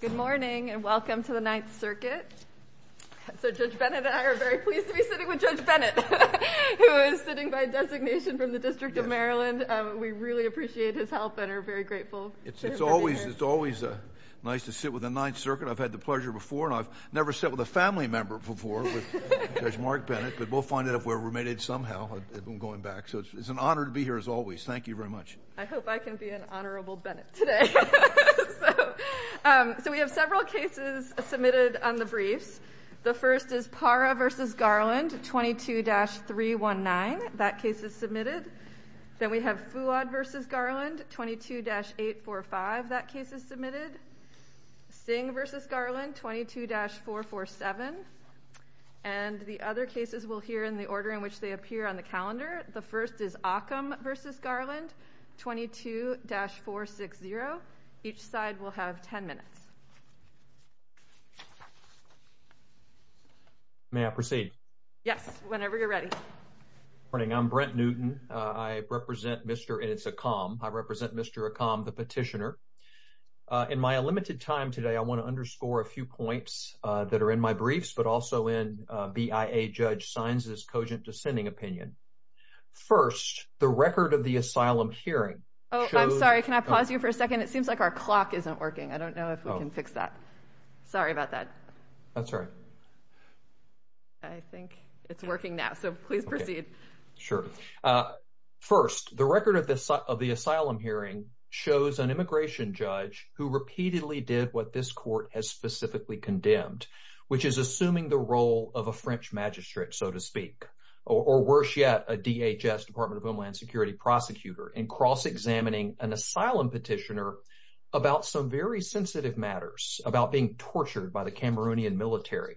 Good morning and welcome to the Ninth Circuit. So Judge Bennett and I are very pleased to be sitting with Judge Bennett, who is sitting by designation from the District of Maryland. We really appreciate his help and are very grateful. It's always nice to sit with the Ninth Circuit. I've had the pleasure before, and I've never sat with a family member before, Judge Mark Bennett. But we'll find out if we're remitted somehow going back. So it's an honor to be here, as always. Thank you very much. I hope I can be an honorable Bennett today. So we have several cases submitted on the briefs. The first is Parra v. Garland, 22-319. That case is submitted. Then we have Fouad v. Garland, 22-845. That case is submitted. Singh v. Garland, 22-447. And the other cases we'll hear in the order in which they appear on the calendar. The first is Occam v. Garland, 22-460. Each side will have 10 minutes. May I proceed? Yes, whenever you're ready. Good morning. I'm Brent Newton. I represent Mr. — and it's Occam. I represent Mr. Occam, the petitioner. In my limited time today, I want to underscore a few points that are in my briefs, but also in BIA Judge Saenz's cogent dissenting opinion. First, the record of the asylum hearing shows — Oh, I'm sorry. Can I pause you for a second? It seems like our clock isn't working. I don't know if we can fix that. Sorry about that. That's all right. I think it's working now, so please proceed. Sure. First, the record of the asylum hearing shows an immigration judge who repeatedly did what this court has specifically condemned, which is assuming the role of a French magistrate, so to speak, or worse yet, a DHS, Department of Homeland Security, prosecutor, in cross-examining an asylum petitioner about some very sensitive matters, about being tortured by the Cameroonian military.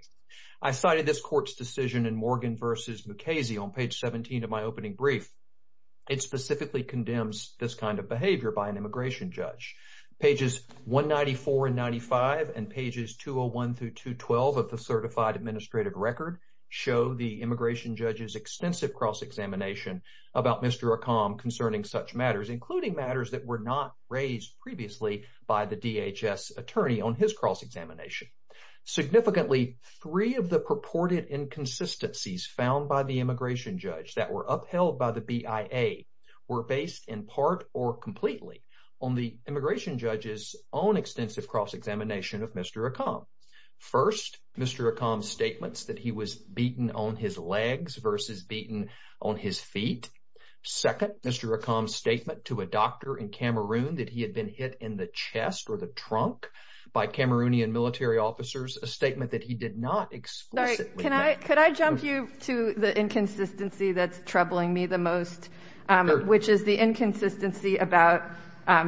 I cited this court's decision in Morgan v. Mukasey on page 17 of my opening brief. It specifically condemns this kind of behavior by an immigration judge. Pages 194 and 95 and pages 201 through 212 of the certified administrative record show the immigration judge's extensive cross-examination about Mr. Accom concerning such matters, including matters that were not raised previously by the DHS attorney on his cross-examination. Significantly, three of the purported inconsistencies found by the immigration judge that were upheld by the BIA were based in part or completely on the immigration judge's own extensive cross-examination of Mr. Accom. First, Mr. Accom's statements that he was beaten on his legs versus beaten on his feet. Second, Mr. Accom's statement to a doctor in Cameroon that he had been hit in the chest or the trunk by Cameroonian military officers, a statement that he did not explicitly... Can I jump you to the inconsistency that's troubling me the most, which is the inconsistency about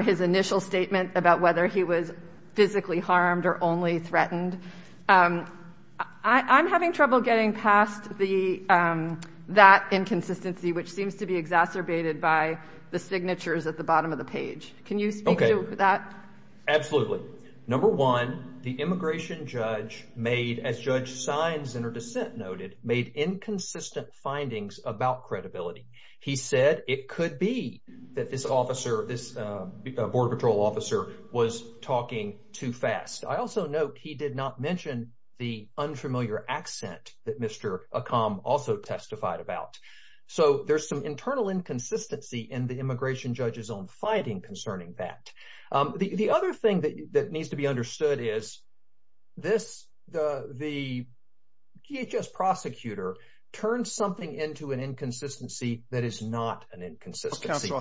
his initial statement about whether he was physically harmed or only threatened. I'm having trouble getting past that inconsistency, which seems to be exacerbated by the signatures at the bottom of the page. Can you speak to that? Absolutely. Number one, the immigration judge made, as Judge Sines in her dissent noted, made inconsistent findings about credibility. He said it could be that this border patrol officer was talking too fast. I also note he did not mention the unfamiliar accent that Mr. Accom also testified about. So there's some internal inconsistency in the immigration judge's own fighting concerning that. The other thing that needs to be understood is the DHS prosecutor turned something into an inconsistency that is not an inconsistency. Counsel,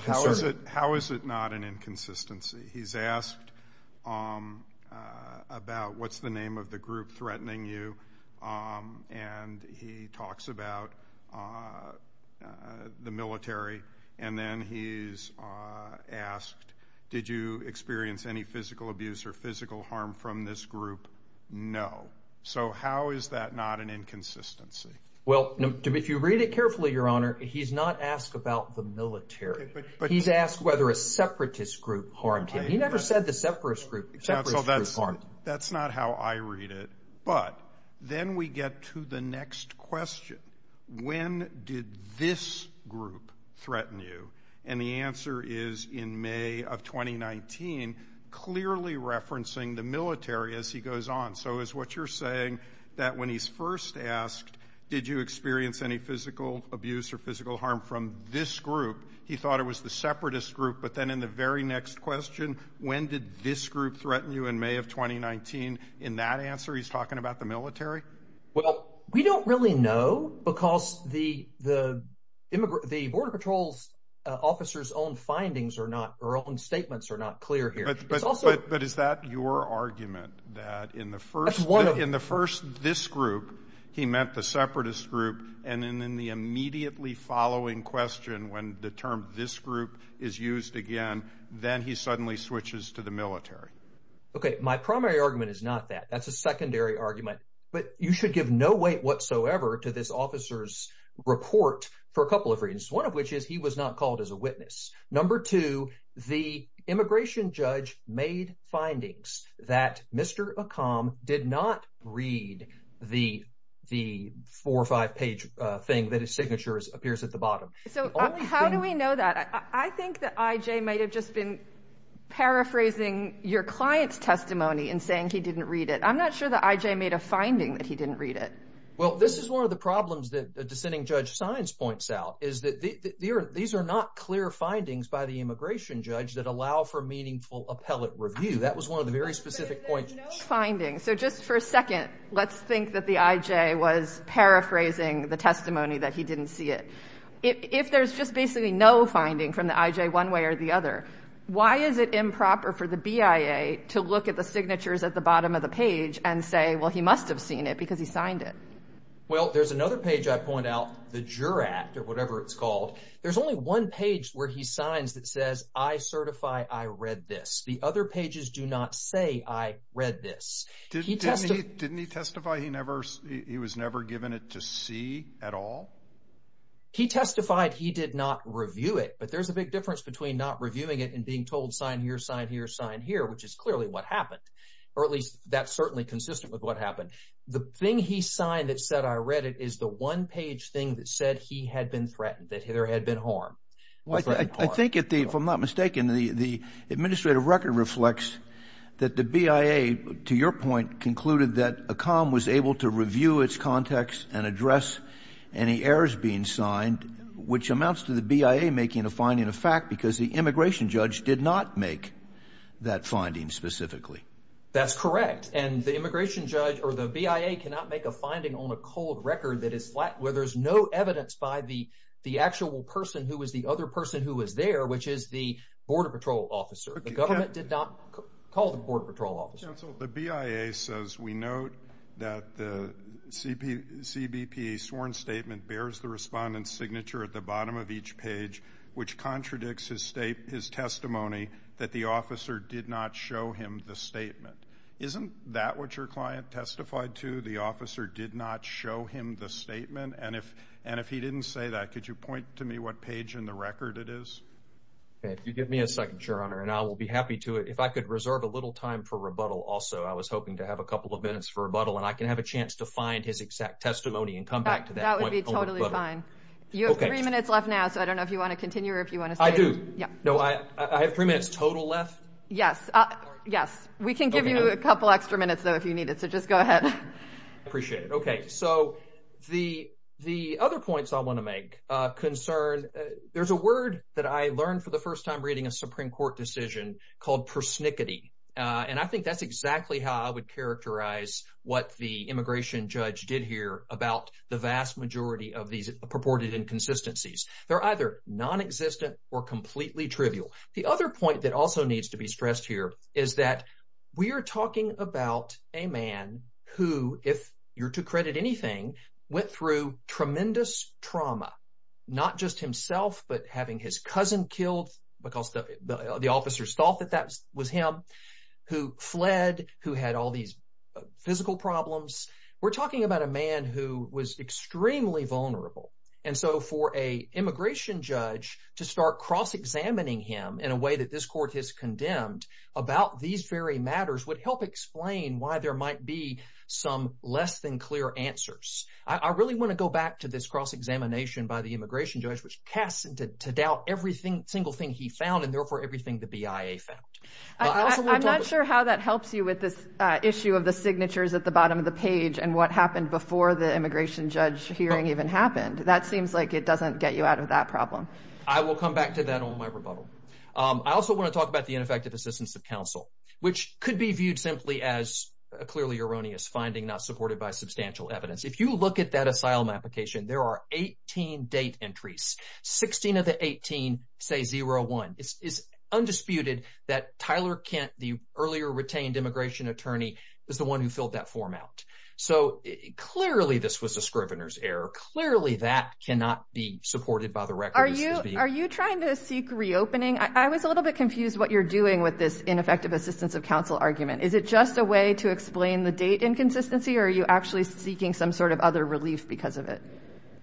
how is it not an inconsistency? He's asked about what's the name of the group threatening you, and he talks about the military, and then he's asked, did you experience any physical abuse or physical harm from this group? No. So how is that not an inconsistency? Well, if you read it carefully, Your Honor, he's not asked about the military. He's asked whether a separatist group harmed him. He never said the separatist group harmed him. That's not how I read it. But then we get to the next question. When did this group threaten you? And the answer is in May of 2019, clearly referencing the military as he goes on. So is what you're saying that when he's first asked, did you experience any physical abuse or physical harm from this group, he thought it was the separatist group, but then in the very next question, when did this group threaten you in May of 2019, in that answer he's talking about the military? Well, we don't really know, because the border patrol officer's own findings or own statements are not clear here. But is that your argument, that in the first this group, he meant the separatist group, and then in the immediately following question, when the term this group is used again, then he suddenly switches to the military? Okay, my primary argument is not that. That's a secondary argument. But you should give no weight whatsoever to this officer's report for a couple of reasons, one of which is he was not called as a witness. Number two, the immigration judge made findings that Mr. Akam did not read the four or five page thing that his signature appears at the bottom. So how do we know that? I think that IJ might have just been paraphrasing your client's testimony and saying he didn't read it. I'm not sure that IJ made a finding that he didn't read it. Well, this is one of the problems that the dissenting judge signs points out, is that these are not clear findings by the immigration judge that allow for meaningful appellate review. That was one of the very specific points. But if there's no finding, so just for a second, let's think that the IJ was paraphrasing the testimony that he didn't see it. If there's just basically no finding from the IJ one way or the other, why is it improper for the BIA to look at the signatures at the bottom of the page and say, well, he must have seen it because he signed it? Well, there's another page I point out, the JURAT, or whatever it's called. There's only one page where he signs that says, I certify I read this. The other pages do not say I read this. Didn't he testify he was never given it to see at all? He testified he did not review it. But there's a big difference between not reviewing it and being told sign here, sign here, sign here, which is clearly what happened, or at least that's certainly consistent with what happened. The thing he signed that said I read it is the one-page thing that said he had been threatened, that there had been harm. I think if I'm not mistaken, the administrative record reflects that the BIA, to your point, concluded that ACOM was able to review its context and address any errors being signed, which amounts to the BIA making a finding of fact because the immigration judge did not make that finding specifically. That's correct, and the immigration judge or the BIA cannot make a finding on a cold record where there's no evidence by the actual person who was the other person who was there, which is the Border Patrol officer. The government did not call the Border Patrol officer. Counsel, the BIA says we note that the CBP sworn statement bears the respondent's signature at the bottom of each page, which contradicts his testimony that the officer did not show him the statement. Isn't that what your client testified to, the officer did not show him the statement? And if he didn't say that, could you point to me what page in the record it is? If you give me a second, Your Honor, and I will be happy to. If I could reserve a little time for rebuttal also, I was hoping to have a couple of minutes for rebuttal, and I can have a chance to find his exact testimony and come back to that point. That would be totally fine. You have three minutes left now, so I don't know if you want to continue or if you want to stay. I do. No, I have three minutes total left. Yes. Yes. We can give you a couple extra minutes, though, if you need it, so just go ahead. I appreciate it. Okay, so the other points I want to make concern there's a word that I learned for the first time reading a Supreme Court decision called persnickety, and I think that's exactly how I would characterize what the immigration judge did here about the vast majority of these purported inconsistencies. They're either nonexistent or completely trivial. The other point that also needs to be stressed here is that we are talking about a man who, if you're to credit anything, went through tremendous trauma, not just himself but having his cousin killed because the officers thought that that was him, who fled, who had all these physical problems. We're talking about a man who was extremely vulnerable. And so for an immigration judge to start cross-examining him in a way that this court has condemned about these very matters would help explain why there might be some less-than-clear answers. I really want to go back to this cross-examination by the immigration judge, which casts into doubt every single thing he found and therefore everything the BIA found. I'm not sure how that helps you with this issue of the signatures at the bottom of the page and what happened before the immigration judge hearing even happened. That seems like it doesn't get you out of that problem. I will come back to that on my rebuttal. I also want to talk about the ineffective assistance of counsel, which could be viewed simply as a clearly erroneous finding not supported by substantial evidence. If you look at that asylum application, there are 18 date entries. 16 of the 18 say 01. It's undisputed that Tyler Kent, the earlier retained immigration attorney, was the one who filled that form out. So clearly this was a scrivener's error. Clearly that cannot be supported by the record. Are you trying to seek reopening? I was a little bit confused what you're doing with this ineffective assistance of counsel argument. Is it just a way to explain the date inconsistency, or are you actually seeking some sort of other relief because of it?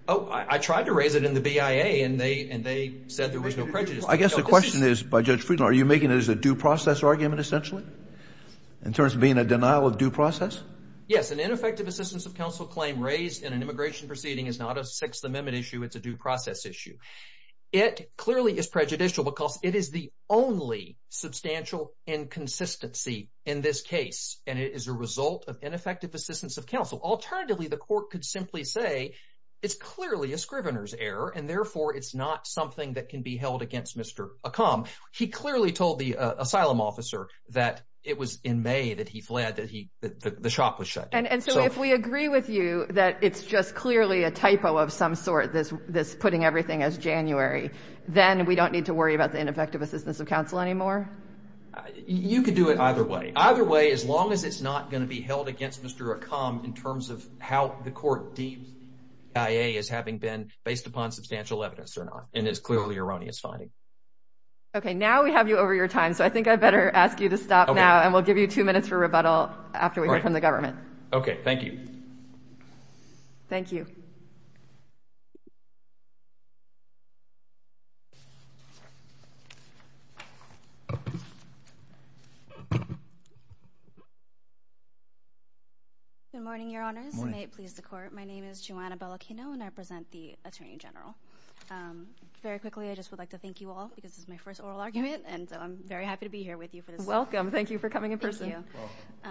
Oh, I tried to raise it in the BIA, and they said there was no prejudice. I guess the question is by Judge Friedland, are you making it as a due process argument, essentially, in terms of being a denial of due process? Yes, an ineffective assistance of counsel claim raised in an immigration proceeding is not a Sixth Amendment issue. It's a due process issue. It clearly is prejudicial because it is the only substantial inconsistency in this case, and it is a result of ineffective assistance of counsel. Alternatively, the court could simply say it's clearly a scrivener's error, and therefore it's not something that can be held against Mr. Akam. He clearly told the asylum officer that it was in May that he fled, that the shop was shut. And so if we agree with you that it's just clearly a typo of some sort, this putting everything as January, then we don't need to worry about the ineffective assistance of counsel anymore? You could do it either way. Either way, as long as it's not going to be held against Mr. Akam in terms of how the court deems the BIA as having been based upon substantial evidence or not, and it's clearly erroneous finding. Okay, now we have you over your time, so I think I'd better ask you to stop now, and we'll give you two minutes for rebuttal after we hear from the government. Okay, thank you. Thank you. Good morning, Your Honors. Good morning. May it please the Court, my name is Joanna Bellacchino, and I represent the Attorney General. Very quickly, I just would like to thank you all because this is my first oral argument, and I'm very happy to be here with you for this. Welcome. Thank you for coming in person. Thank you.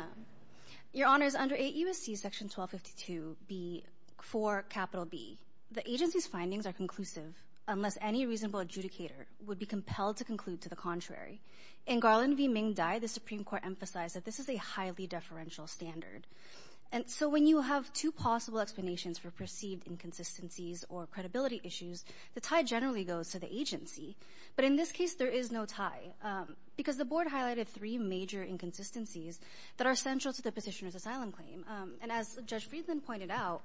Your Honors, under 8 U.S.C. Section 1252, B, for capital B, the agency's findings are conclusive unless any reasonable adjudicator would be compelled to conclude to the contrary. In Garland v. Ming Dai, the Supreme Court emphasized that this is a highly deferential standard. And so when you have two possible explanations for perceived inconsistencies or credibility issues, the tie generally goes to the agency. But in this case, there is no tie because the Board highlighted three major inconsistencies that are central to the petitioner's asylum claim. And as Judge Friedland pointed out,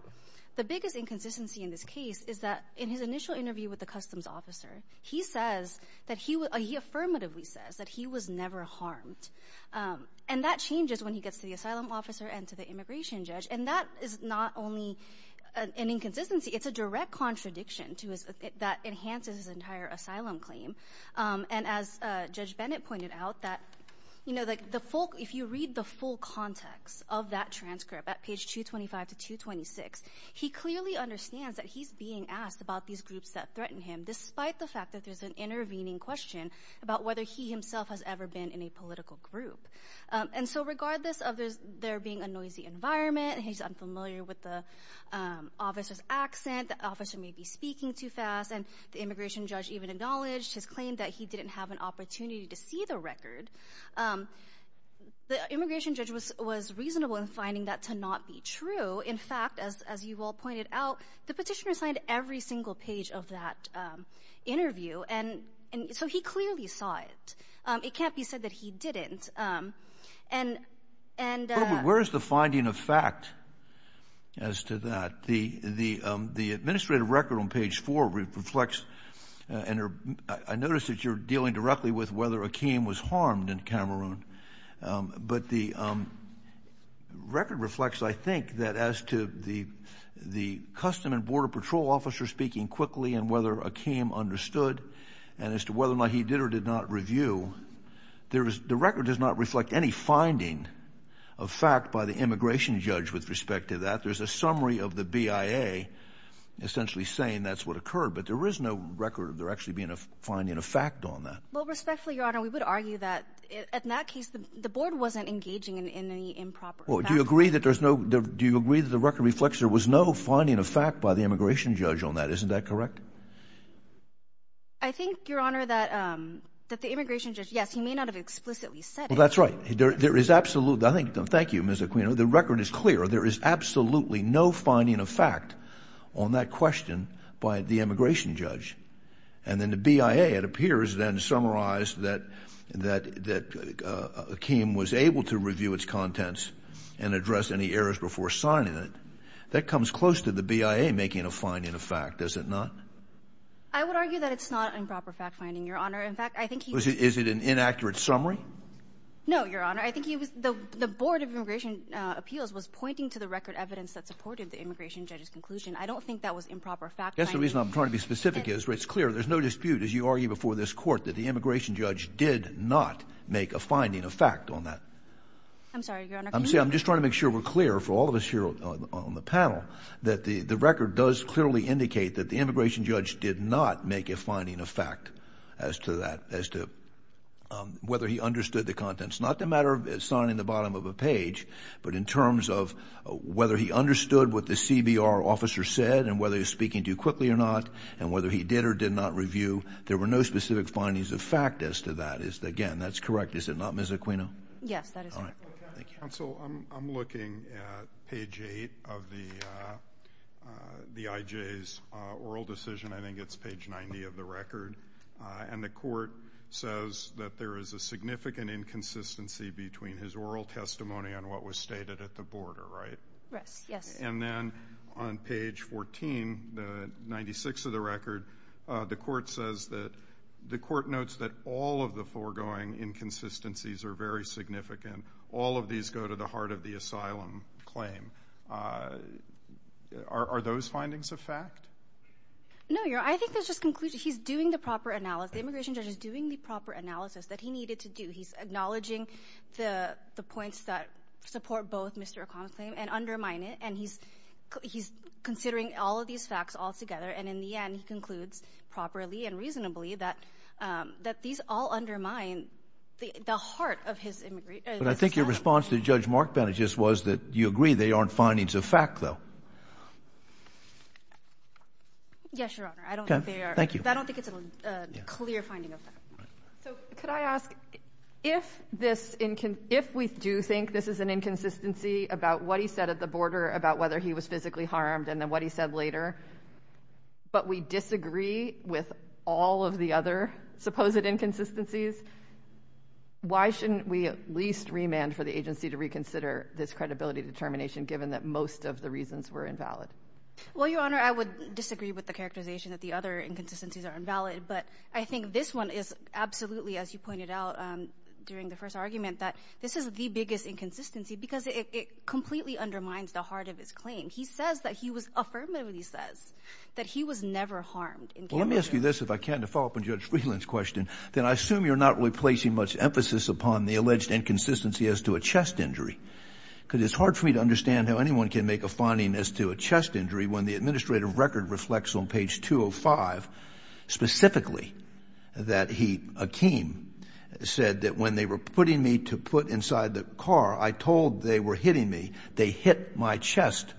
the biggest inconsistency in this case is that in his initial interview with the customs officer, he says that he affirmatively says that he was never harmed. And that changes when he gets to the asylum officer and to the immigration judge. And that is not only an inconsistency, it's a direct contradiction that enhances his entire asylum claim. And as Judge Bennett pointed out, if you read the full context of that transcript at page 225 to 226, he clearly understands that he's being asked about these groups that threaten him despite the fact that there's an intervening question about whether he himself has ever been in a political group. And so regardless of there being a noisy environment, he's unfamiliar with the officer's accent, the officer may be speaking too fast, and the immigration judge even acknowledged his claim that he didn't have an opportunity to see the record. The immigration judge was reasonable in finding that to not be true. In fact, as you all pointed out, the petitioner signed every single page of that interview, and so he clearly saw it. It can't be said that he didn't. Where is the finding of fact as to that? The administrative record on page 4 reflects, and I notice that you're dealing directly with whether Akeem was harmed in Cameroon. But the record reflects, I think, that as to the custom and border patrol officer speaking quickly and whether Akeem understood, and as to whether or not he did or did not review, the record does not reflect any finding of fact by the immigration judge with respect to that. There's a summary of the BIA essentially saying that's what occurred, but there is no record of there actually being a finding of fact on that. Well, respectfully, Your Honor, we would argue that, in that case, the board wasn't engaging in any improper fact. Well, do you agree that the record reflects there was no finding of fact by the immigration judge on that? Isn't that correct? I think, Your Honor, that the immigration judge, yes, he may not have explicitly said it. Well, that's right. I think, thank you, Ms. Aquino, the record is clear. There is absolutely no finding of fact on that question by the immigration judge. And then the BIA, it appears, then summarized that Akeem was able to review its contents and address any errors before signing it. That comes close to the BIA making a finding of fact, does it not? I would argue that it's not an improper fact finding, Your Honor. In fact, I think he was— Is it an inaccurate summary? No, Your Honor. I think he was—the Board of Immigration Appeals was pointing to the record evidence that supported the immigration judge's conclusion. I don't think that was improper fact finding. That's the reason I'm trying to be specific here. It's clear. There's no dispute, as you argue before this court, that the immigration judge did not make a finding of fact on that. I'm sorry, Your Honor. I'm just trying to make sure we're clear, for all of us here on the panel, that the record does clearly indicate that the immigration judge did not make a finding of fact as to that, as to whether he understood the contents. Not the matter of signing the bottom of a page, but in terms of whether he understood what the CBR officer said and whether he was speaking too quickly or not and whether he did or did not review. There were no specific findings of fact as to that. Again, that's correct, is it not, Ms. Aquino? Yes, that is correct. Counsel, I'm looking at page 8 of the IJ's oral decision. I think it's page 90 of the record. And the court says that there is a significant inconsistency between his oral testimony and what was stated at the border, right? Yes. And then on page 14, 96 of the record, the court says that the court notes that all of the foregoing inconsistencies are very significant. All of these go to the heart of the asylum claim. Are those findings of fact? No, Your Honor. I think there's just conclusion. He's doing the proper analysis. The immigration judge is doing the proper analysis that he needed to do. He's acknowledging the points that support both Mr. O'Connell's claim and undermine it. And he's considering all of these facts all together. And in the end, he concludes properly and reasonably that these all undermine the heart of his immigration. But I think your response to Judge Mark Benedict was that you agree they aren't findings of fact, though. Yes, Your Honor. I don't think they are. Thank you. I don't think it's a clear finding of fact. So could I ask, if we do think this is an inconsistency about what he said at the border, about whether he was physically harmed, and then what he said later, but we disagree with all of the other supposed inconsistencies, why shouldn't we at least remand for the agency to reconsider this credibility determination, given that most of the reasons were invalid? Well, Your Honor, I would disagree with the characterization that the other inconsistencies are invalid. But I think this one is absolutely, as you pointed out during the first argument, that this is the biggest inconsistency because it completely undermines the heart of his claim. He says that he was affirmatively says that he was never harmed. Well, let me ask you this, if I can, to follow up on Judge Freeland's question, that I assume you're not really placing much emphasis upon the alleged inconsistency as to a chest injury. Because it's hard for me to understand how anyone can make a finding as to a chest injury when the administrative record reflects on page 205 specifically that he, Akeem, said that when they were putting me to put inside the car, I told they were hitting me. They hit my chest.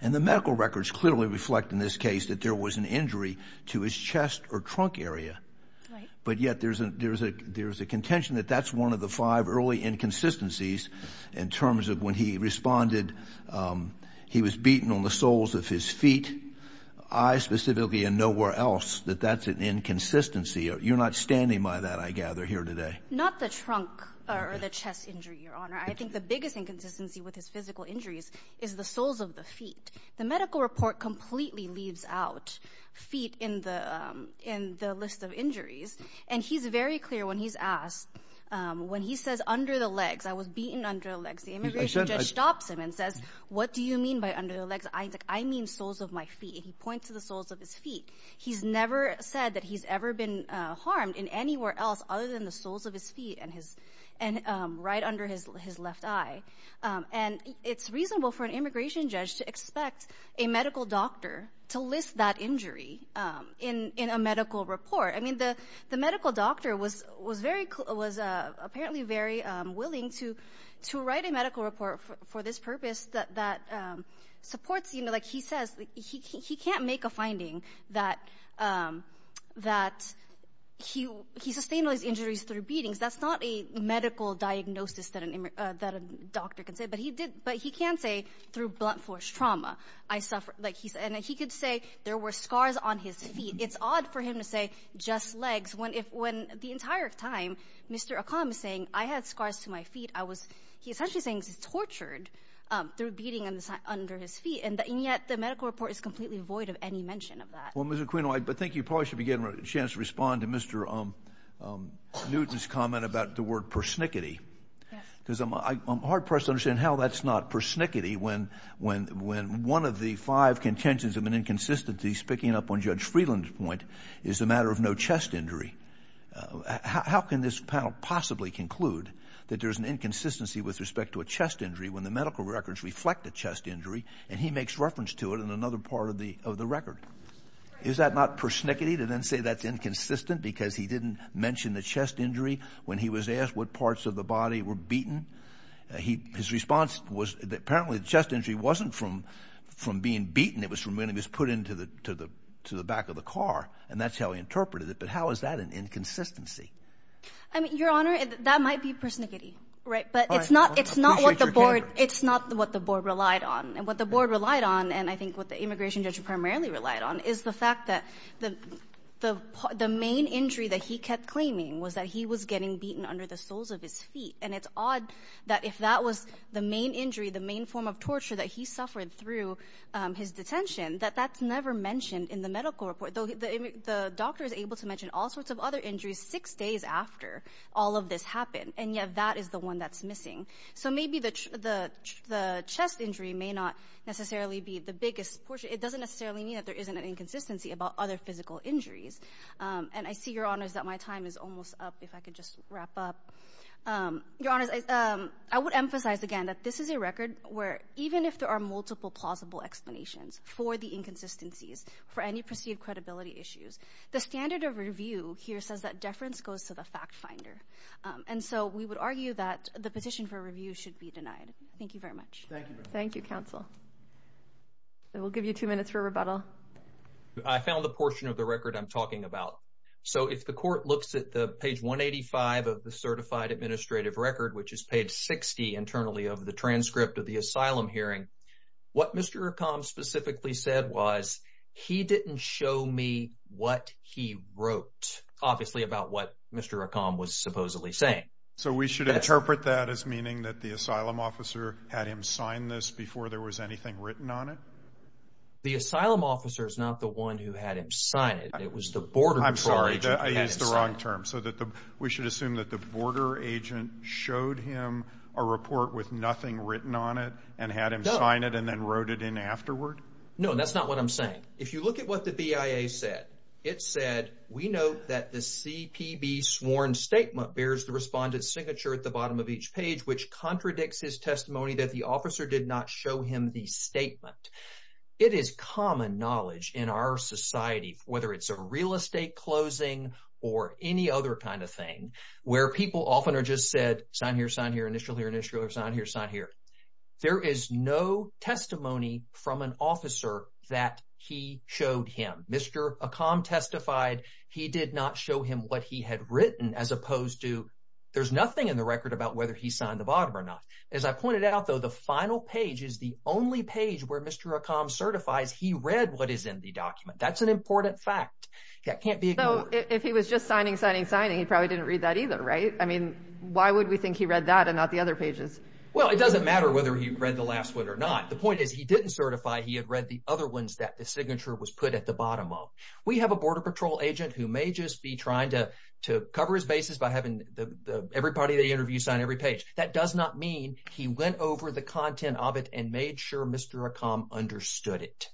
And the medical records clearly reflect in this case that there was an injury to his chest or trunk area. Right. But yet there's a contention that that's one of the five early inconsistencies in terms of when he responded, he was beaten on the soles of his feet, I specifically and nowhere else, that that's an inconsistency. You're not standing by that, I gather, here today. Not the trunk or the chest injury, Your Honor. I think the biggest inconsistency with his physical injuries is the soles of the feet. The medical report completely leaves out feet in the list of injuries. And he's very clear when he's asked, when he says under the legs, I was beaten under the legs, the immigration judge stops him and says, what do you mean by under the legs? I mean soles of my feet. He points to the soles of his feet. He's never said that he's ever been harmed in anywhere else other than the soles of his feet and right under his left eye. And it's reasonable for an immigration judge to expect a medical doctor to list that injury in a medical report. I mean, the medical doctor was apparently very willing to write a medical report for this purpose that supports, you know, like he says, he can't make a finding that he sustained those injuries through beatings. That's not a medical diagnosis that a doctor can say, but he can say through blunt force trauma. And he could say there were scars on his feet. It's odd for him to say just legs when the entire time Mr. O'Connor was saying I had scars to my feet, I was he essentially saying he was tortured through beating under his feet. And yet the medical report is completely void of any mention of that. Well, Mr. Aquino, I think you probably should be getting a chance to respond to Mr. Newton's comment about the word persnickety because I'm hard pressed to understand how that's not persnickety. When when when one of the five contentions of an inconsistency speaking up on Judge Freeland's point is a matter of no chest injury. How can this panel possibly conclude that there is an inconsistency with respect to a chest injury when the medical records reflect a chest injury and he makes reference to it in another part of the of the record? Is that not persnickety to then say that's inconsistent because he didn't mention the chest injury when he was asked what parts of the body were beaten? He his response was apparently the chest injury wasn't from from being beaten. It was from when he was put into the to the to the back of the car. And that's how he interpreted it. But how is that an inconsistency? I mean, your honor, that might be persnickety. Right. But it's not it's not the board. It's not what the board relied on and what the board relied on. And I think what the immigration judge primarily relied on is the fact that the the the main injury that he kept claiming was that he was getting beaten under the soles of his feet. And it's odd that if that was the main injury, the main form of torture that he suffered through his detention, that that's never mentioned in the medical report. The doctor is able to mention all sorts of other injuries six days after all of this happened. And yet that is the one that's missing. So maybe the the the chest injury may not necessarily be the biggest portion. It doesn't necessarily mean that there isn't an inconsistency about other physical injuries. And I see your honors that my time is almost up. If I could just wrap up your honor. I would emphasize again that this is a record where even if there are multiple plausible explanations for the inconsistencies, for any perceived credibility issues, the standard of review here says that deference goes to the fact finder. And so we would argue that the petition for review should be denied. Thank you very much. Thank you. Thank you, counsel. We'll give you two minutes for rebuttal. I found the portion of the record I'm talking about. So if the court looks at the page 185 of the certified administrative record, which is page 60 internally of the transcript of the asylum hearing, what Mr. Combs specifically said was he didn't show me what he wrote, obviously about what Mr. Combs was supposedly saying. So we should interpret that as meaning that the asylum officer had him sign this before there was anything written on it. The asylum officer is not the one who had him sign it. It was the border. I'm sorry. I used the wrong term so that we should assume that the border agent showed him a report with nothing written on it and had him sign it and then wrote it in afterward. No, that's not what I'm saying. If you look at what the BIA said, it said we know that the CPB sworn statement bears the respondent's signature at the bottom of each page, which contradicts his testimony that the officer did not show him the statement. It is common knowledge in our society, whether it's a real estate closing or any other kind of thing, where people often are just said, sign here, sign here, initial here, initial here, sign here, sign here. There is no testimony from an officer that he showed him. Mr. Combs testified he did not show him what he had written, as opposed to there's nothing in the record about whether he signed the bottom or not. As I pointed out, though, the final page is the only page where Mr. Combs certifies he read what is in the document. That's an important fact that can't be ignored. So if he was just signing, signing, signing, he probably didn't read that either, right? I mean, why would we think he read that and not the other pages? Well, it doesn't matter whether he read the last one or not. The point is he didn't certify he had read the other ones that the signature was put at the bottom of. We have a border patrol agent who may just be trying to cover his bases by having everybody they interview sign every page. That does not mean he went over the content of it and made sure Mr. Combs understood it.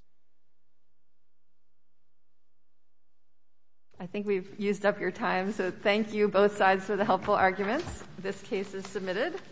I think we've used up your time, so thank you both sides for the helpful arguments. This case is submitted.